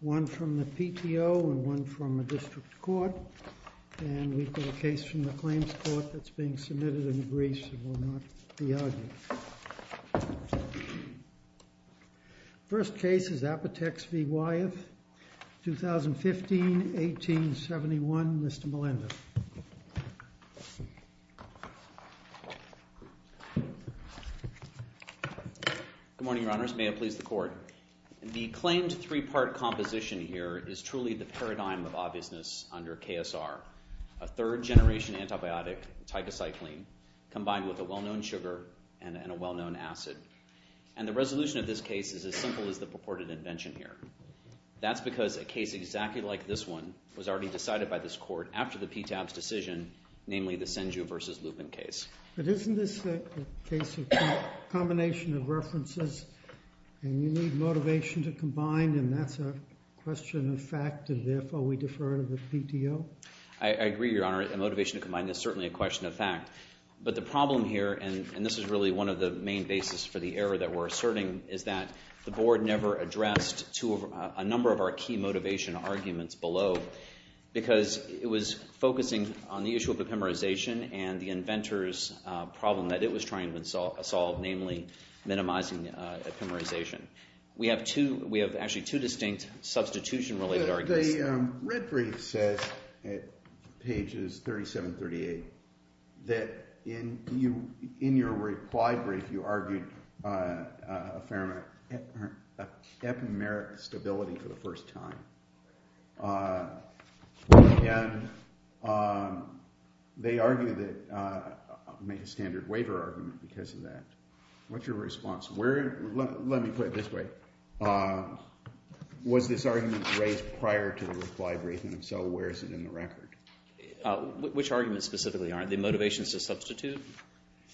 One from the PTO and one from a district court. And we've got a case from the Claims Court that's being submitted in the briefs and will not be argued. First case is Apotex v. Wyeth, 2015-1871. Mr. Melendez. Good morning, Your Honors. May it please the Court. The claimed three-part composition here is truly the paradigm of obviousness under KSR, a third-generation antibiotic, tycocycline, combined with a well-known sugar and a well-known acid. And the resolution of this case is as simple as the purported invention here. That's because a case exactly like this one was already decided by this court after the PTAB's decision, namely the Senju v. Lupin case. But isn't this a case of combination of references, and you need motivation to combine, and that's a question of fact, and therefore we defer to the PTO? I agree, Your Honor. A motivation to combine is certainly a question of fact. But the problem here, and this is really one of the main bases for the error that we're asserting, is that the Board never addressed a number of our key motivation arguments below because it was focusing on the issue of epimerization and the inventor's problem that it was trying to solve, namely minimizing epimerization. We have actually two distinct substitution-related arguments. The red brief says at pages 37-38 that in your reply brief you argued epimeric stability for the first time. And they argue that – make a standard waiver argument because of that. What's your response? Let me put it this way. Was this argument raised prior to the reply brief, and if so, where is it in the record? Which argument specifically, Your Honor? The motivations to substitute?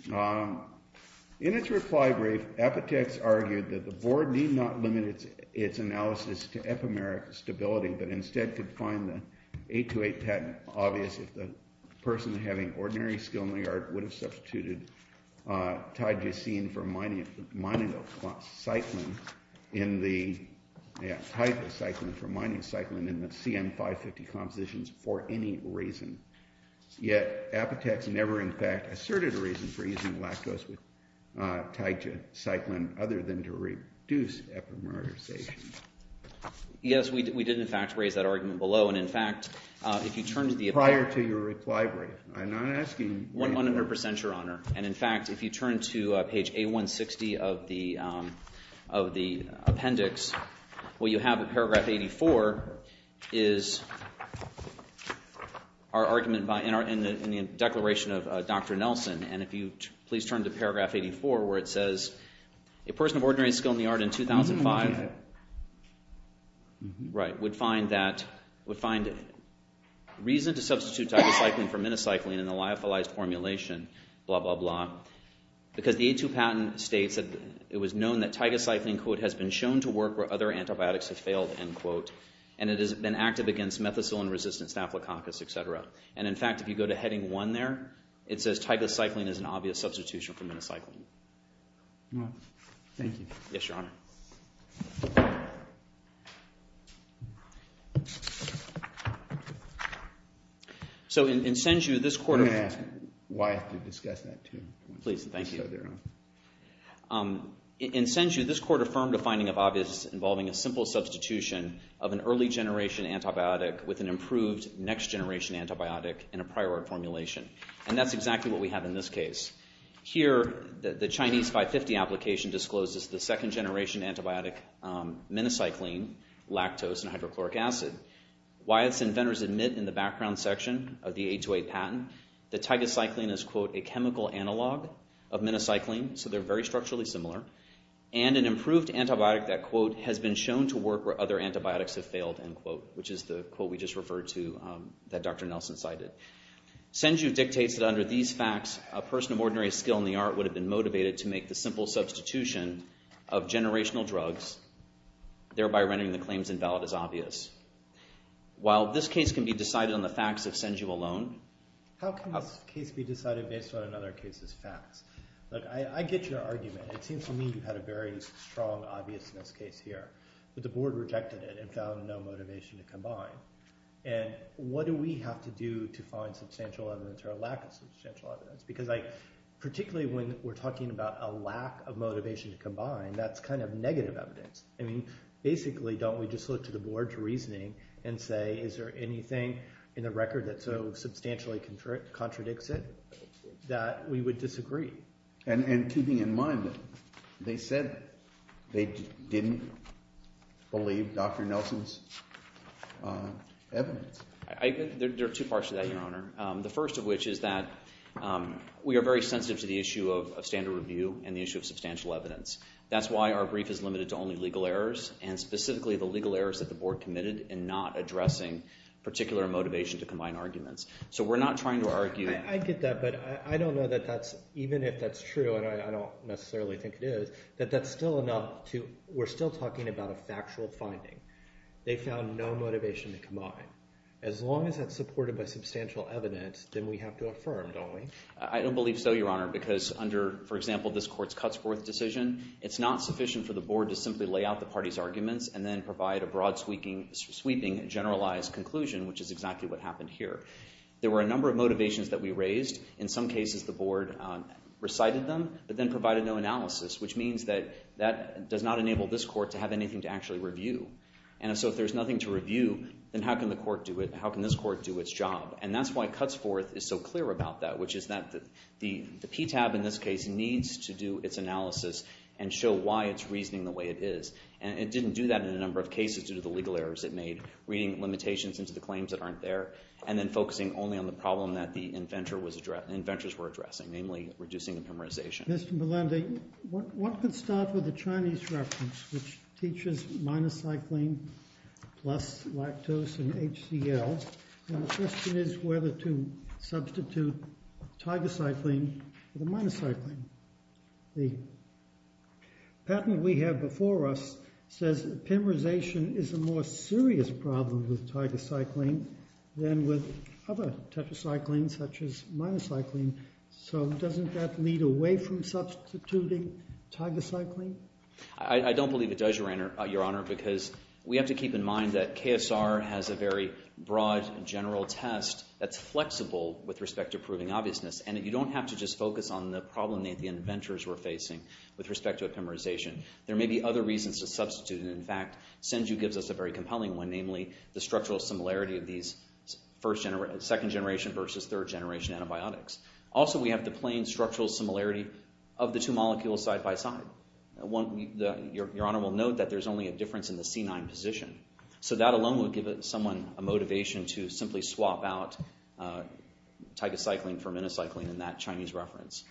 In its reply brief, Epitex argued that the Board need not limit its analysis to epimeric stability but instead could find the 828 patent obvious if the person having ordinary skill in the art would have substituted tygocine for mining of cyclin in the CN-550 compositions for any reason. Yet Epitex never in fact asserted a reason for using lactose with tygocycline other than to reduce epimerization. Yes, we did in fact raise that argument below, and in fact, if you turn to the – 100 percent, Your Honor. And in fact, if you turn to page A160 of the appendix, what you have in paragraph 84 is our argument in the declaration of Dr. Nelson. And if you please turn to paragraph 84 where it says a person of ordinary skill in the art in 2005 would find that – substitution for minocycline in the lyophilized formulation, blah, blah, blah. Because the 82 patent states that it was known that tygocycline, quote, has been shown to work where other antibiotics have failed, end quote, and it has been active against methicillin-resistant staphylococcus, et cetera. And in fact, if you go to heading one there, it says tygocycline is an obvious substitution for minocycline. All right. Thank you. Yes, Your Honor. So in Senju, this court – Let me ask why I have to discuss that too. Please. Thank you. So they're on. In Senju, this court affirmed a finding of obvious involving a simple substitution of an early generation antibiotic with an improved next generation antibiotic in a prior art formulation. And that's exactly what we have in this case. Here, the Chinese 550 application discloses the second generation antibiotic minocycline, lactose, and hydrochloric acid. Why its inventors admit in the background section of the 828 patent that tygocycline is, quote, a chemical analog of minocycline, so they're very structurally similar, and an improved antibiotic that, quote, has been shown to work where other antibiotics have failed, end quote, which is the quote we just referred to that Dr. Nelson cited. Senju dictates that under these facts, a person of ordinary skill in the art would have been motivated to make the simple substitution of generational drugs, thereby rendering the claims invalid as obvious. While this case can be decided on the facts of Senju alone – How can this case be decided based on another case's facts? Look, I get your argument. It seems to me you had a very strong obviousness case here. But the board rejected it and found no motivation to combine. And what do we have to do to find substantial evidence or a lack of substantial evidence? Because particularly when we're talking about a lack of motivation to combine, that's kind of negative evidence. I mean, basically, don't we just look to the board's reasoning and say, is there anything in the record that so substantially contradicts it that we would disagree? And keeping in mind that they said they didn't believe Dr. Nelson's evidence. There are two parts to that, Your Honor. The first of which is that we are very sensitive to the issue of standard review and the issue of substantial evidence. That's why our brief is limited to only legal errors and specifically the legal errors that the board committed in not addressing particular motivation to combine arguments. So we're not trying to argue – I get that, but I don't know that that's – even if that's true, and I don't necessarily think it is, that that's still enough to – we're still talking about a factual finding. They found no motivation to combine. As long as that's supported by substantial evidence, then we have to affirm, don't we? I don't believe so, Your Honor, because under, for example, this court's Cutsforth decision, it's not sufficient for the board to simply lay out the party's arguments and then provide a broad sweeping generalized conclusion, which is exactly what happened here. There were a number of motivations that we raised. In some cases, the board recited them but then provided no analysis, which means that that does not enable this court to have anything to actually review. And so if there's nothing to review, then how can the court do it – how can this court do its job? And that's why Cutsforth is so clear about that, which is that the PTAB in this case needs to do its analysis and show why it's reasoning the way it is. And it didn't do that in a number of cases due to the legal errors it made, reading limitations into the claims that aren't there. And then focusing only on the problem that the inventors were addressing, namely reducing epimerization. Mr. Melendi, one can start with the Chinese reference, which teaches minus cycline plus lactose and HCL. And the question is whether to substitute tigercycline for the minocycline. The patent we have before us says epimerization is a more serious problem with tigercycline than with other tetracyclines, such as minocycline. So doesn't that lead away from substituting tigercycline? I don't believe it does, Your Honor, because we have to keep in mind that KSR has a very broad general test that's flexible with respect to proving obviousness. And you don't have to just focus on the problem that the inventors were facing with respect to epimerization. There may be other reasons to substitute, and in fact, this issue gives us a very compelling one, namely the structural similarity of these second-generation versus third-generation antibiotics. Also, we have the plain structural similarity of the two molecules side by side. Your Honor will note that there's only a difference in the C9 position. So that alone would give someone a motivation to simply swap out tigercycline for minocycline in that Chinese reference.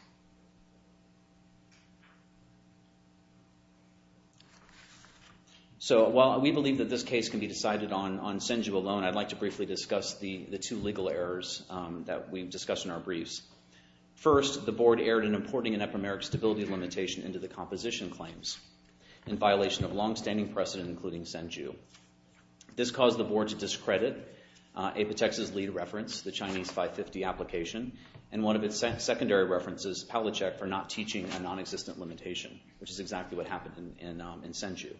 So while we believe that this case can be decided on Senju alone, I'd like to briefly discuss the two legal errors that we've discussed in our briefs. First, the Board erred in importing an epimeric stability limitation into the composition claims in violation of longstanding precedent, including Senju. This caused the Board to discredit Apotex's lead reference, the Chinese 550 application, and one of its secondary references, Palachek, for not teaching a nonexistent limitation, which is exactly what happened in Senju.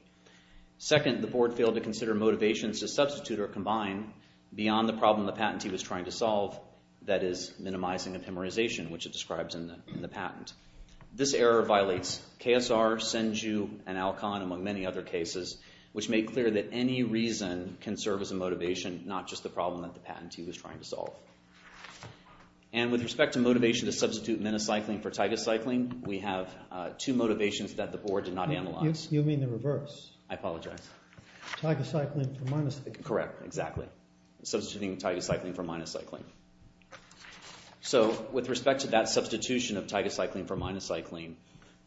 Second, the Board failed to consider motivations to substitute or combine beyond the problem the patentee was trying to solve, that is, minimizing epimerization, which it describes in the patent. This error violates KSR, Senju, and Alcon, among many other cases, which make clear that any reason can serve as a motivation, not just the problem that the patentee was trying to solve. And with respect to motivation to substitute minocycline for tigacycline, we have two motivations that the Board did not analyze. You mean the reverse. I apologize. Tigacycline for minocycline. Correct, exactly. Substituting tigacycline for minocycline. So with respect to that substitution of tigacycline for minocycline,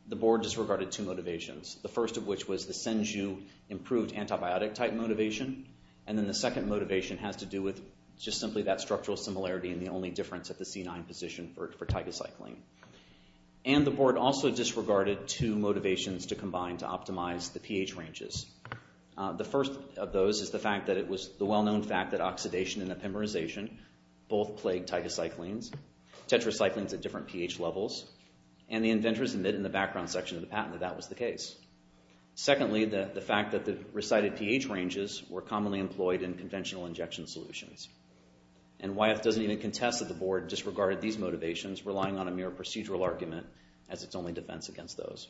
the Board disregarded two motivations, the first of which was the Senju-improved antibiotic-type motivation, and then the second motivation has to do with just simply that structural similarity and the only difference at the C9 position for tigacycline. And the Board also disregarded two motivations to combine to optimize the pH ranges. The first of those is the well-known fact that oxidation and epimerization both plague tigacyclines, tetracyclines at different pH levels, and the inventors admit in the background section of the patent that that was the case. Secondly, the fact that the recited pH ranges were commonly employed in conventional injection solutions. And Wyeth doesn't even contest that the Board disregarded these motivations, relying on a mere procedural argument as its only defense against those.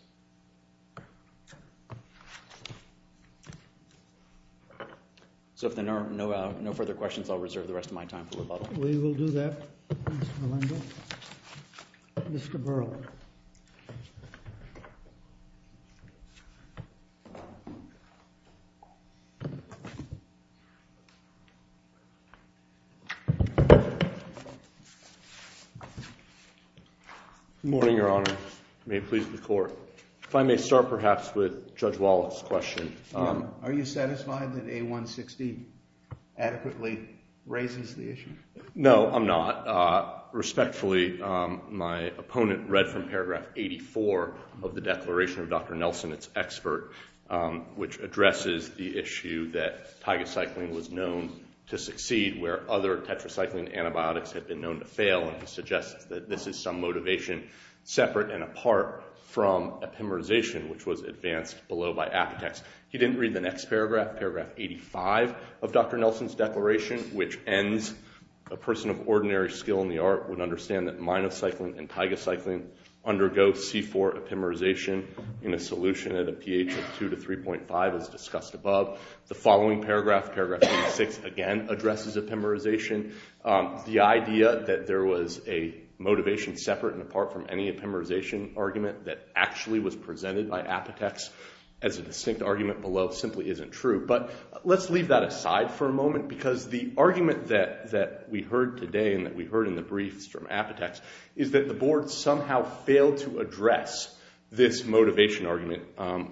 So if there are no further questions, I'll reserve the rest of my time for rebuttal. We will do that, Mr. Melendo. Mr. Burrell. Good morning, Your Honor. May it please the Court. If I may start perhaps with Judge Wallach's question. Are you satisfied that A116 adequately raises the issue? No, I'm not. Respectfully, my opponent read from paragraph 84 of the declaration of Dr. Nelson, its expert, which addresses the issue that tigacycline was known to succeed where other tetracycline antibiotics had been known to fail, and he suggests that this is some motivation separate and apart from epimerization, which was advanced below by apotex. He didn't read the next paragraph, paragraph 85 of Dr. Nelson's declaration, which ends, a person of ordinary skill in the art would understand that minocycline and tigacycline undergo C4 epimerization in a solution at a pH of 2 to 3.5, as discussed above. The following paragraph, paragraph 86, again addresses epimerization. The idea that there was a motivation separate and apart from any epimerization argument that actually was presented by apotex as a distinct argument below simply isn't true. But let's leave that aside for a moment because the argument that we heard today and that we heard in the briefs from apotex is that the board somehow failed to address this motivation argument.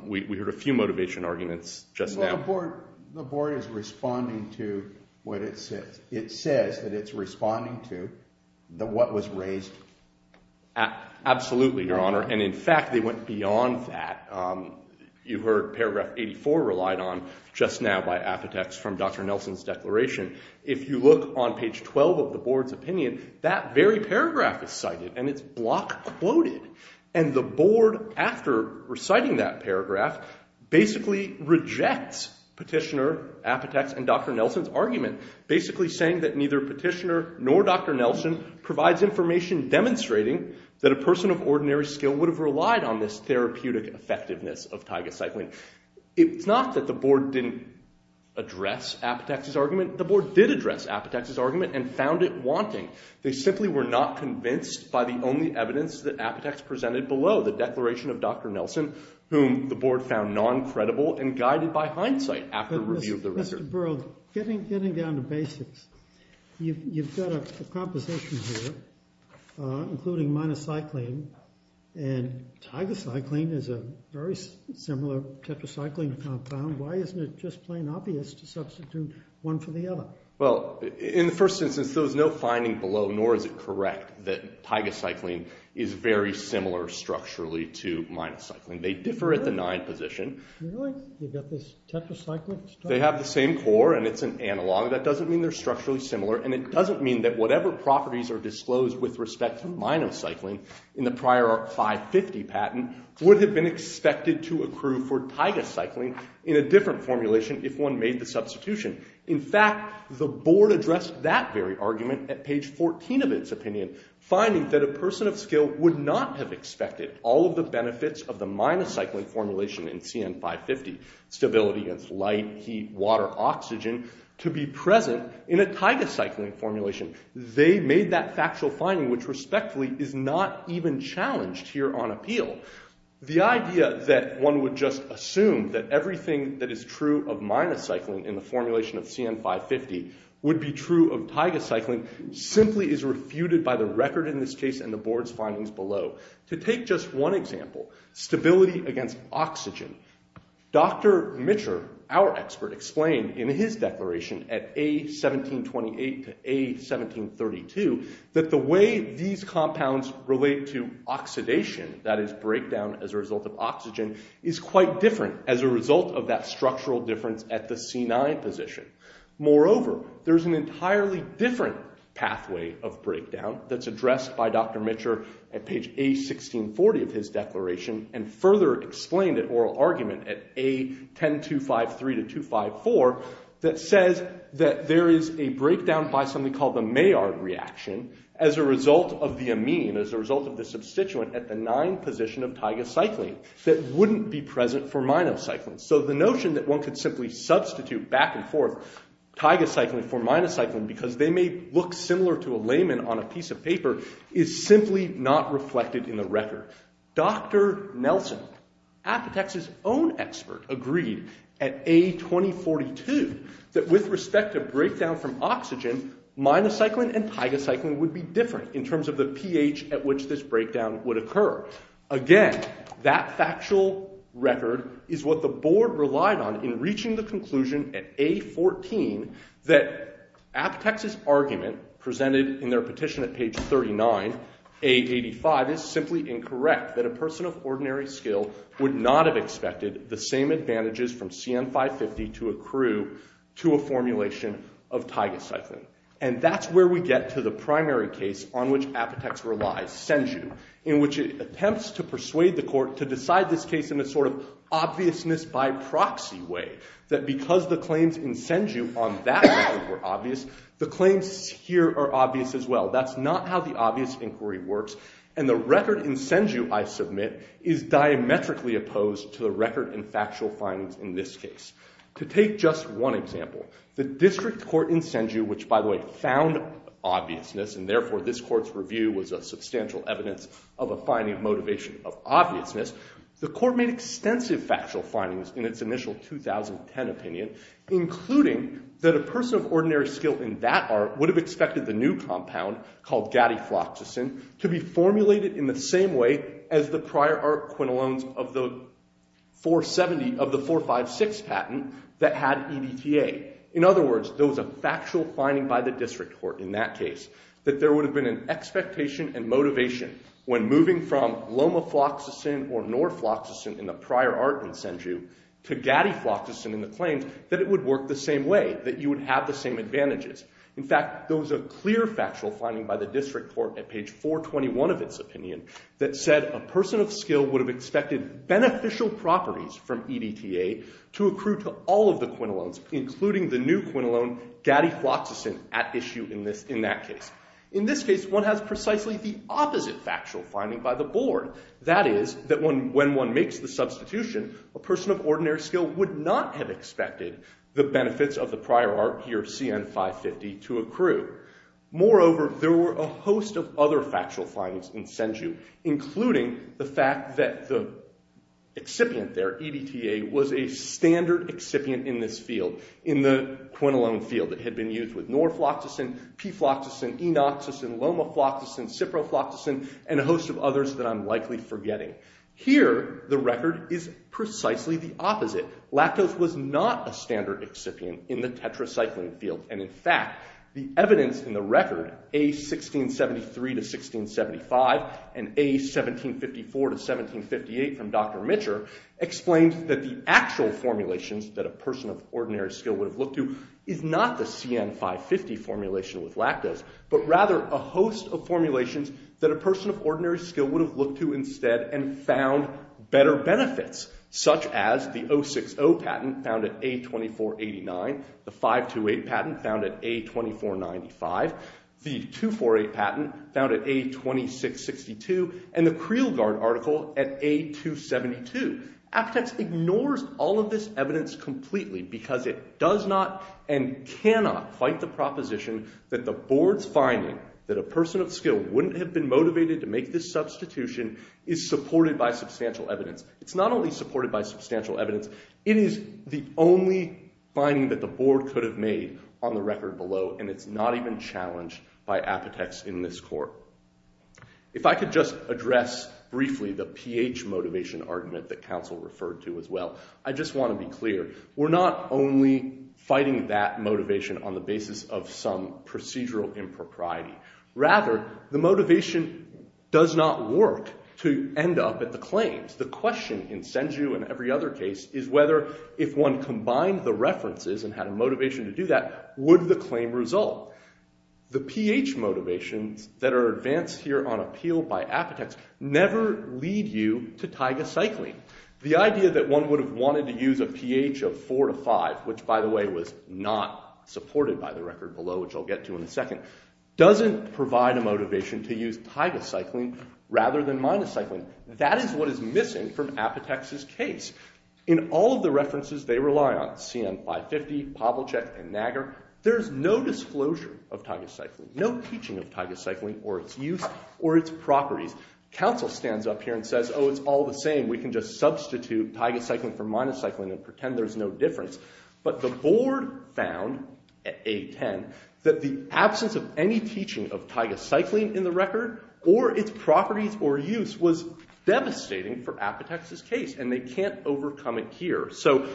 We heard a few motivation arguments just now. Well, the board is responding to what it says. It says that it's responding to what was raised. Absolutely, Your Honor. And, in fact, they went beyond that. You heard paragraph 84 relied on just now by apotex from Dr. Nelson's declaration. If you look on page 12 of the board's opinion, that very paragraph is cited, and it's block quoted. And the board, after reciting that paragraph, basically rejects petitioner apotex and Dr. Nelson's argument, basically saying that neither petitioner nor Dr. Nelson provides information demonstrating that a person of ordinary skill would have relied on this therapeutic effectiveness of tigacycline. It's not that the board didn't address apotex's argument. The board did address apotex's argument and found it wanting. They simply were not convinced by the only evidence that apotex presented below, the declaration of Dr. Nelson, whom the board found non-credible and guided by hindsight after review of the record. Mr. Burrell, getting down to basics, you've got a composition here, including minocycline, and tigacycline is a very similar tetracycline compound. Why isn't it just plain obvious to substitute one for the other? Well, in the first instance, there was no finding below, nor is it correct, that tigacycline is very similar structurally to minocycline. They differ at the nine position. Really? You've got this tetracycline stuff? They have the same core, and it's an analog. That doesn't mean they're structurally similar, and it doesn't mean that whatever properties are disclosed with respect to minocycline in the prior 550 patent would have been expected to accrue for tigacycline in a different formulation if one made the substitution. In fact, the board addressed that very argument at page 14 of its opinion, finding that a person of skill would not have expected all of the benefits of the minocycline formulation in CN-550, stability against light, heat, water, oxygen, to be present in a tigacycline formulation. They made that factual finding, which respectfully is not even challenged here on appeal. The idea that one would just assume that everything that is true of minocycline in the formulation of CN-550 would be true of tigacycline simply is refuted by the record in this case and the board's findings below. To take just one example, stability against oxygen. Dr. Mitcher, our expert, explained in his declaration at A1728 to A1732 that the way these compounds relate to oxidation, that is, breakdown as a result of oxygen, is quite different as a result of that structural difference at the C9 position. Moreover, there's an entirely different pathway of breakdown that's addressed by Dr. Mitcher at page A1640 of his declaration and further explained at oral argument at A10253 to A10254 that says that there is a breakdown by something called the Maillard reaction as a result of the amine, as a result of the substituent at the 9 position of tigacycline that wouldn't be present for minocycline. So the notion that one could simply substitute back and forth tigacycline for minocycline because they may look similar to a layman on a piece of paper is simply not reflected in the record. Dr. Nelson, Apotex's own expert, agreed at A2042 that with respect to breakdown from oxygen, minocycline and tigacycline would be different in terms of the pH at which this breakdown would occur. Again, that factual record is what the board relied on in reaching the conclusion at A14 that Apotex's argument presented in their petition at page 39, A85, is simply incorrect that a person of ordinary skill would not have expected the same advantages from CN550 to accrue to a formulation of tigacycline. And that's where we get to the primary case on which Apotex relies, Senju, in which it attempts to persuade the court to decide this case in a sort of obviousness by proxy way that because the claims in Senju on that were obvious, the claims here are obvious as well. That's not how the obvious inquiry works. And the record in Senju, I submit, is diametrically opposed to the record in factual findings in this case. To take just one example, the district court in Senju, which, by the way, found obviousness, and therefore this court's review was a substantial evidence of a finding of motivation of obviousness, the court made extensive factual findings in its initial 2010 opinion, including that a person of ordinary skill in that art would have expected the new compound called gadifloxacin to be formulated in the same way as the prior art quinolones of the 470 of the 456 patent that had EDTA. In other words, there was a factual finding by the district court in that case that there would have been an expectation and motivation when moving from lomafloxacin or norfloxacin in the prior art in Senju to gadifloxacin in the claims that it would work the same way, that you would have the same advantages. In fact, there was a clear factual finding by the district court at page 421 of its opinion that said a person of skill would have expected beneficial properties from EDTA to accrue to all of the quinolones, including the new quinolone gadifloxacin at issue in that case. In this case, one has precisely the opposite factual finding by the board. That is, that when one makes the substitution, a person of ordinary skill would not have expected the benefits of the prior art here, CN550, to accrue. Moreover, there were a host of other factual findings in Senju, including the fact that the excipient there, EDTA, was a standard excipient in this field, in the quinolone field. It had been used with norfloxacin, pfloxacin, enoxacin, lomafloxacin, ciprofloxacin, and a host of others that I'm likely forgetting. Here, the record is precisely the opposite. Lactose was not a standard excipient in the tetracycline field. And in fact, the evidence in the record, A1673-1675, and A1754-1758 from Dr. Mitcher, explains that the actual formulations that a person of ordinary skill would have looked to is not the CN550 formulation with lactose, but rather a host of formulations that a person of ordinary skill would have looked to instead and found better benefits, such as the 060 patent found at A2489, the 528 patent found at A2495, the 248 patent found at A2662, and the Creelguard article at A272. Appetex ignores all of this evidence completely because it does not and cannot fight the proposition that the board's finding that a person of skill wouldn't have been motivated to make this substitution is supported by substantial evidence. It's not only supported by substantial evidence. It is the only finding that the board could have made on the record below, and it's not even challenged by Appetex in this court. If I could just address briefly the pH motivation argument that counsel referred to as well, I just want to be clear. We're not only fighting that motivation on the basis of some procedural impropriety. Rather, the motivation does not work to end up at the claims. The question in Senju and every other case is whether, if one combined the references and had a motivation to do that, would the claim result? The pH motivations that are advanced here on appeal by Appetex never lead you to taiga cycling. The idea that one would have wanted to use a pH of 4 to 5, which, by the way, was not supported by the record below, which I'll get to in a second, doesn't provide a motivation to use taiga cycling rather than minus cycling. That is what is missing from Appetex's case. In all of the references they rely on, CN-550, Pobolchek, and Naggar, there's no disclosure of taiga cycling, no teaching of taiga cycling or its use or its properties. Counsel stands up here and says, oh, it's all the same. We can just substitute taiga cycling for minus cycling and pretend there's no difference. But the board found, at 8-10, that the absence of any teaching of taiga cycling in the record or its properties or use was devastating for Appetex's case, and they can't overcome it here. So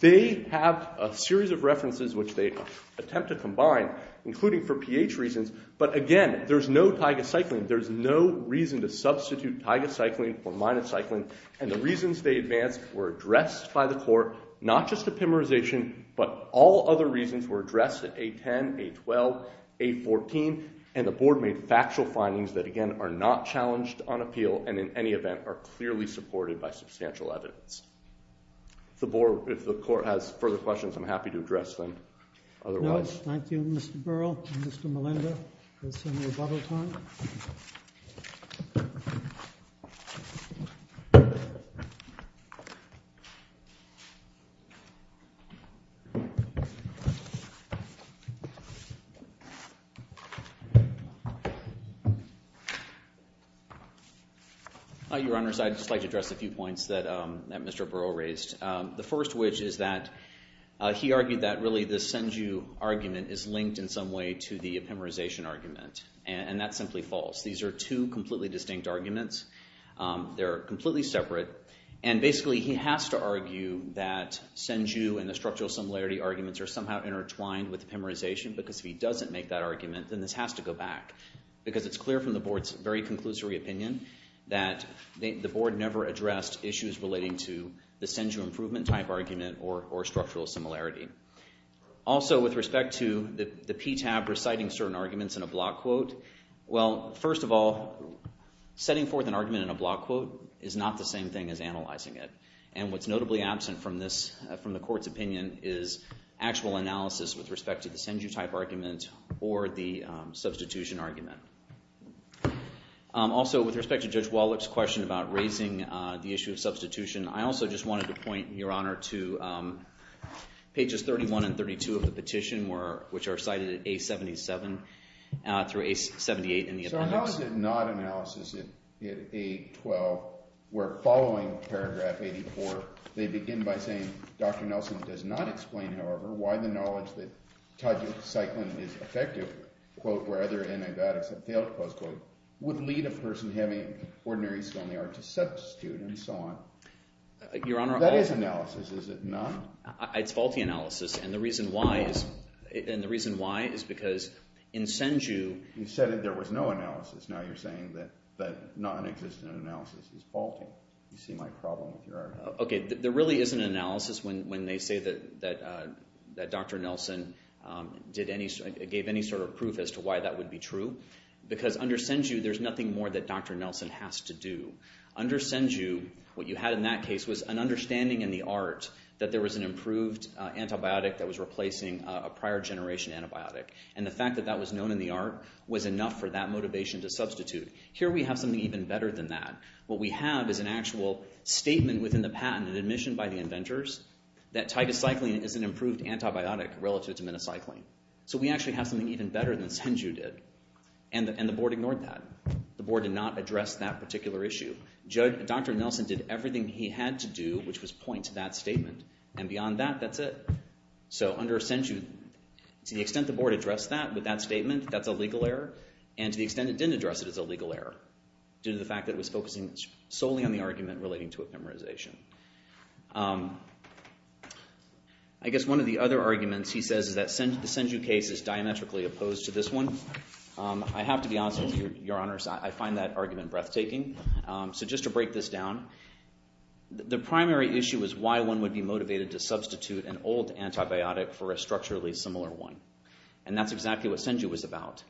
they have a series of references which they attempt to combine, including for pH reasons, but again, there's no taiga cycling. There's no reason to substitute taiga cycling for minus cycling, and the reasons they advanced were addressed by the court, not just epimerization, but all other reasons were addressed at 8-10, 8-12, 8-14, and the board made factual findings that, again, are not challenged on appeal and, in any event, are clearly supported by substantial evidence. If the court has further questions, I'm happy to address them otherwise. Thank you, Mr. Burrell and Mr. Melinda. There's some rebuttal time. Your Honors, I'd just like to address a few points that Mr. Burrell raised, the first of which is that he argued that, really, this Senju argument is linked in some way to the epimerization argument, and that's simply false. These are two completely distinct arguments. They're completely separate, and basically he has to argue that Senju and the structural similarity arguments are somehow intertwined with epimerization because if he doesn't make that argument, then this has to go back, because it's clear from the board's very conclusory opinion that the board never addressed issues relating to the Senju improvement type argument or structural similarity. Also, with respect to the PTAB reciting certain arguments in a block quote, well, first of all, setting forth an argument in a block quote is not the same thing as analyzing it, and what's notably absent from the court's opinion is actual analysis with respect to the Senju type argument or the substitution argument. Also, with respect to Judge Wallach's question about raising the issue of substitution, I also just wanted to point, Your Honor, to pages 31 and 32 of the petition, which are cited at A77 through A78 in the appendix. So how is it not analysis at A12, where following paragraph 84, they begin by saying, Dr. Nelson does not explain, however, why the knowledge that Tajik cycling is effective, quote, where other enigmatics have failed, close quote, would lead a person having ordinary skill in the art to substitute and so on. That is analysis, is it not? It's faulty analysis, and the reason why is because in Senju... You said that there was no analysis. Now you're saying that nonexistent analysis is faulty. You see my problem with your argument. Okay, there really is an analysis when they say that Dr. Nelson gave any sort of proof as to why that would be true, because under Senju, there's nothing more that Dr. Nelson has to do. Under Senju, what you had in that case was an understanding in the art that there was an improved antibiotic that was replacing a prior-generation antibiotic, and the fact that that was known in the art was enough for that motivation to substitute. Here we have something even better than that. What we have is an actual statement within the patent, an admission by the inventors, that titocycline is an improved antibiotic relative to minocycline. So we actually have something even better than Senju did, and the board ignored that. The board did not address that particular issue. Dr. Nelson did everything he had to do, which was point to that statement, and beyond that, that's it. So under Senju, to the extent the board addressed that with that statement, that's a legal error, and to the extent it didn't address it, it's a legal error, due to the fact that it was focusing solely on the argument relating to epimerization. I guess one of the other arguments he says is that the Senju case is diametrically opposed to this one. I have to be honest with you, Your Honors, I find that argument breathtaking. So just to break this down, the primary issue is why one would be motivated to substitute an old antibiotic for a structurally similar one, and that's exactly what Senju was about.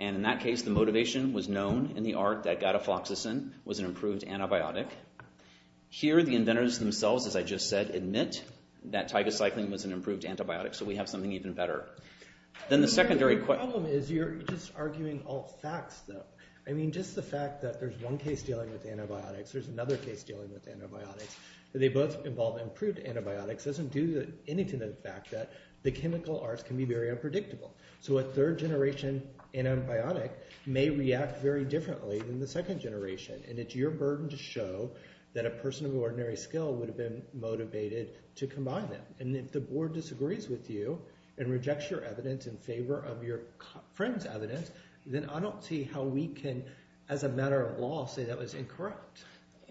And in that case, the motivation was known in the art that gatafloxacin was an improved antibiotic. Here, the inventors themselves, as I just said, admit that tigacycline was an improved antibiotic, so we have something even better. Then the secondary question... The problem is you're just arguing all facts, though. I mean, just the fact that there's one case dealing with antibiotics, there's another case dealing with antibiotics, that they both involve improved antibiotics doesn't do anything to the fact that the chemical arts can be very unpredictable. So a third-generation antibiotic may react very differently than the second generation, and it's your burden to show that a person of ordinary skill would have been motivated to combine them. And if the board disagrees with you and rejects your evidence in favor of your friend's evidence, then I don't see how we can, as a matter of law, say that was incorrect.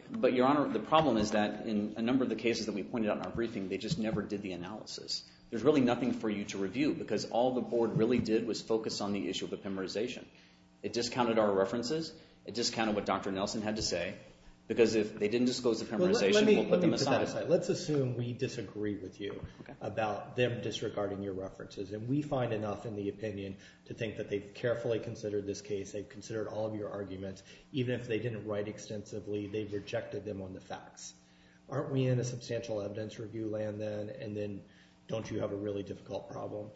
But, Your Honor, the problem is that in a number of the cases that we pointed out in our briefing, they just never did the analysis. There's really nothing for you to review because all the board really did was focus on the issue of epimerization. It discounted our references, it discounted what Dr. Nelson had to say, because if they didn't disclose the epimerization, we'll put them aside. Let's assume we disagree with you about them disregarding your references, and we find enough in the opinion to think that they've carefully considered this case, they've considered all of your arguments, even if they didn't write extensively, they've rejected them on the facts. Aren't we in a substantial evidence-review land then, and then don't you have a really difficult problem?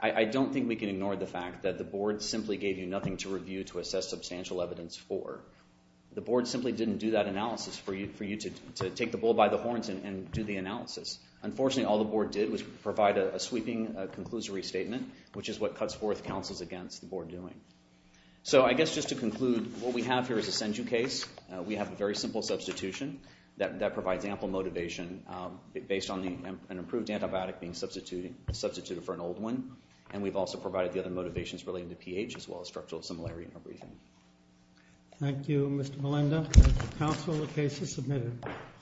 I don't think we can ignore the fact that the board simply gave you nothing to review to assess substantial evidence for. The board simply didn't do that analysis for you to take the bull by the horns and do the analysis. Unfortunately, all the board did was provide a sweeping conclusory statement, which is what cuts forth counsels against the board doing. So I guess just to conclude, what we have here is a SendU case. We have a very simple substitution that provides ample motivation based on an improved antibiotic being substituted for an old one, and we've also provided the other motivations relating to pH as well as structural similarity in our briefing. Thank you, Mr. Melinda. Council, the case is submitted.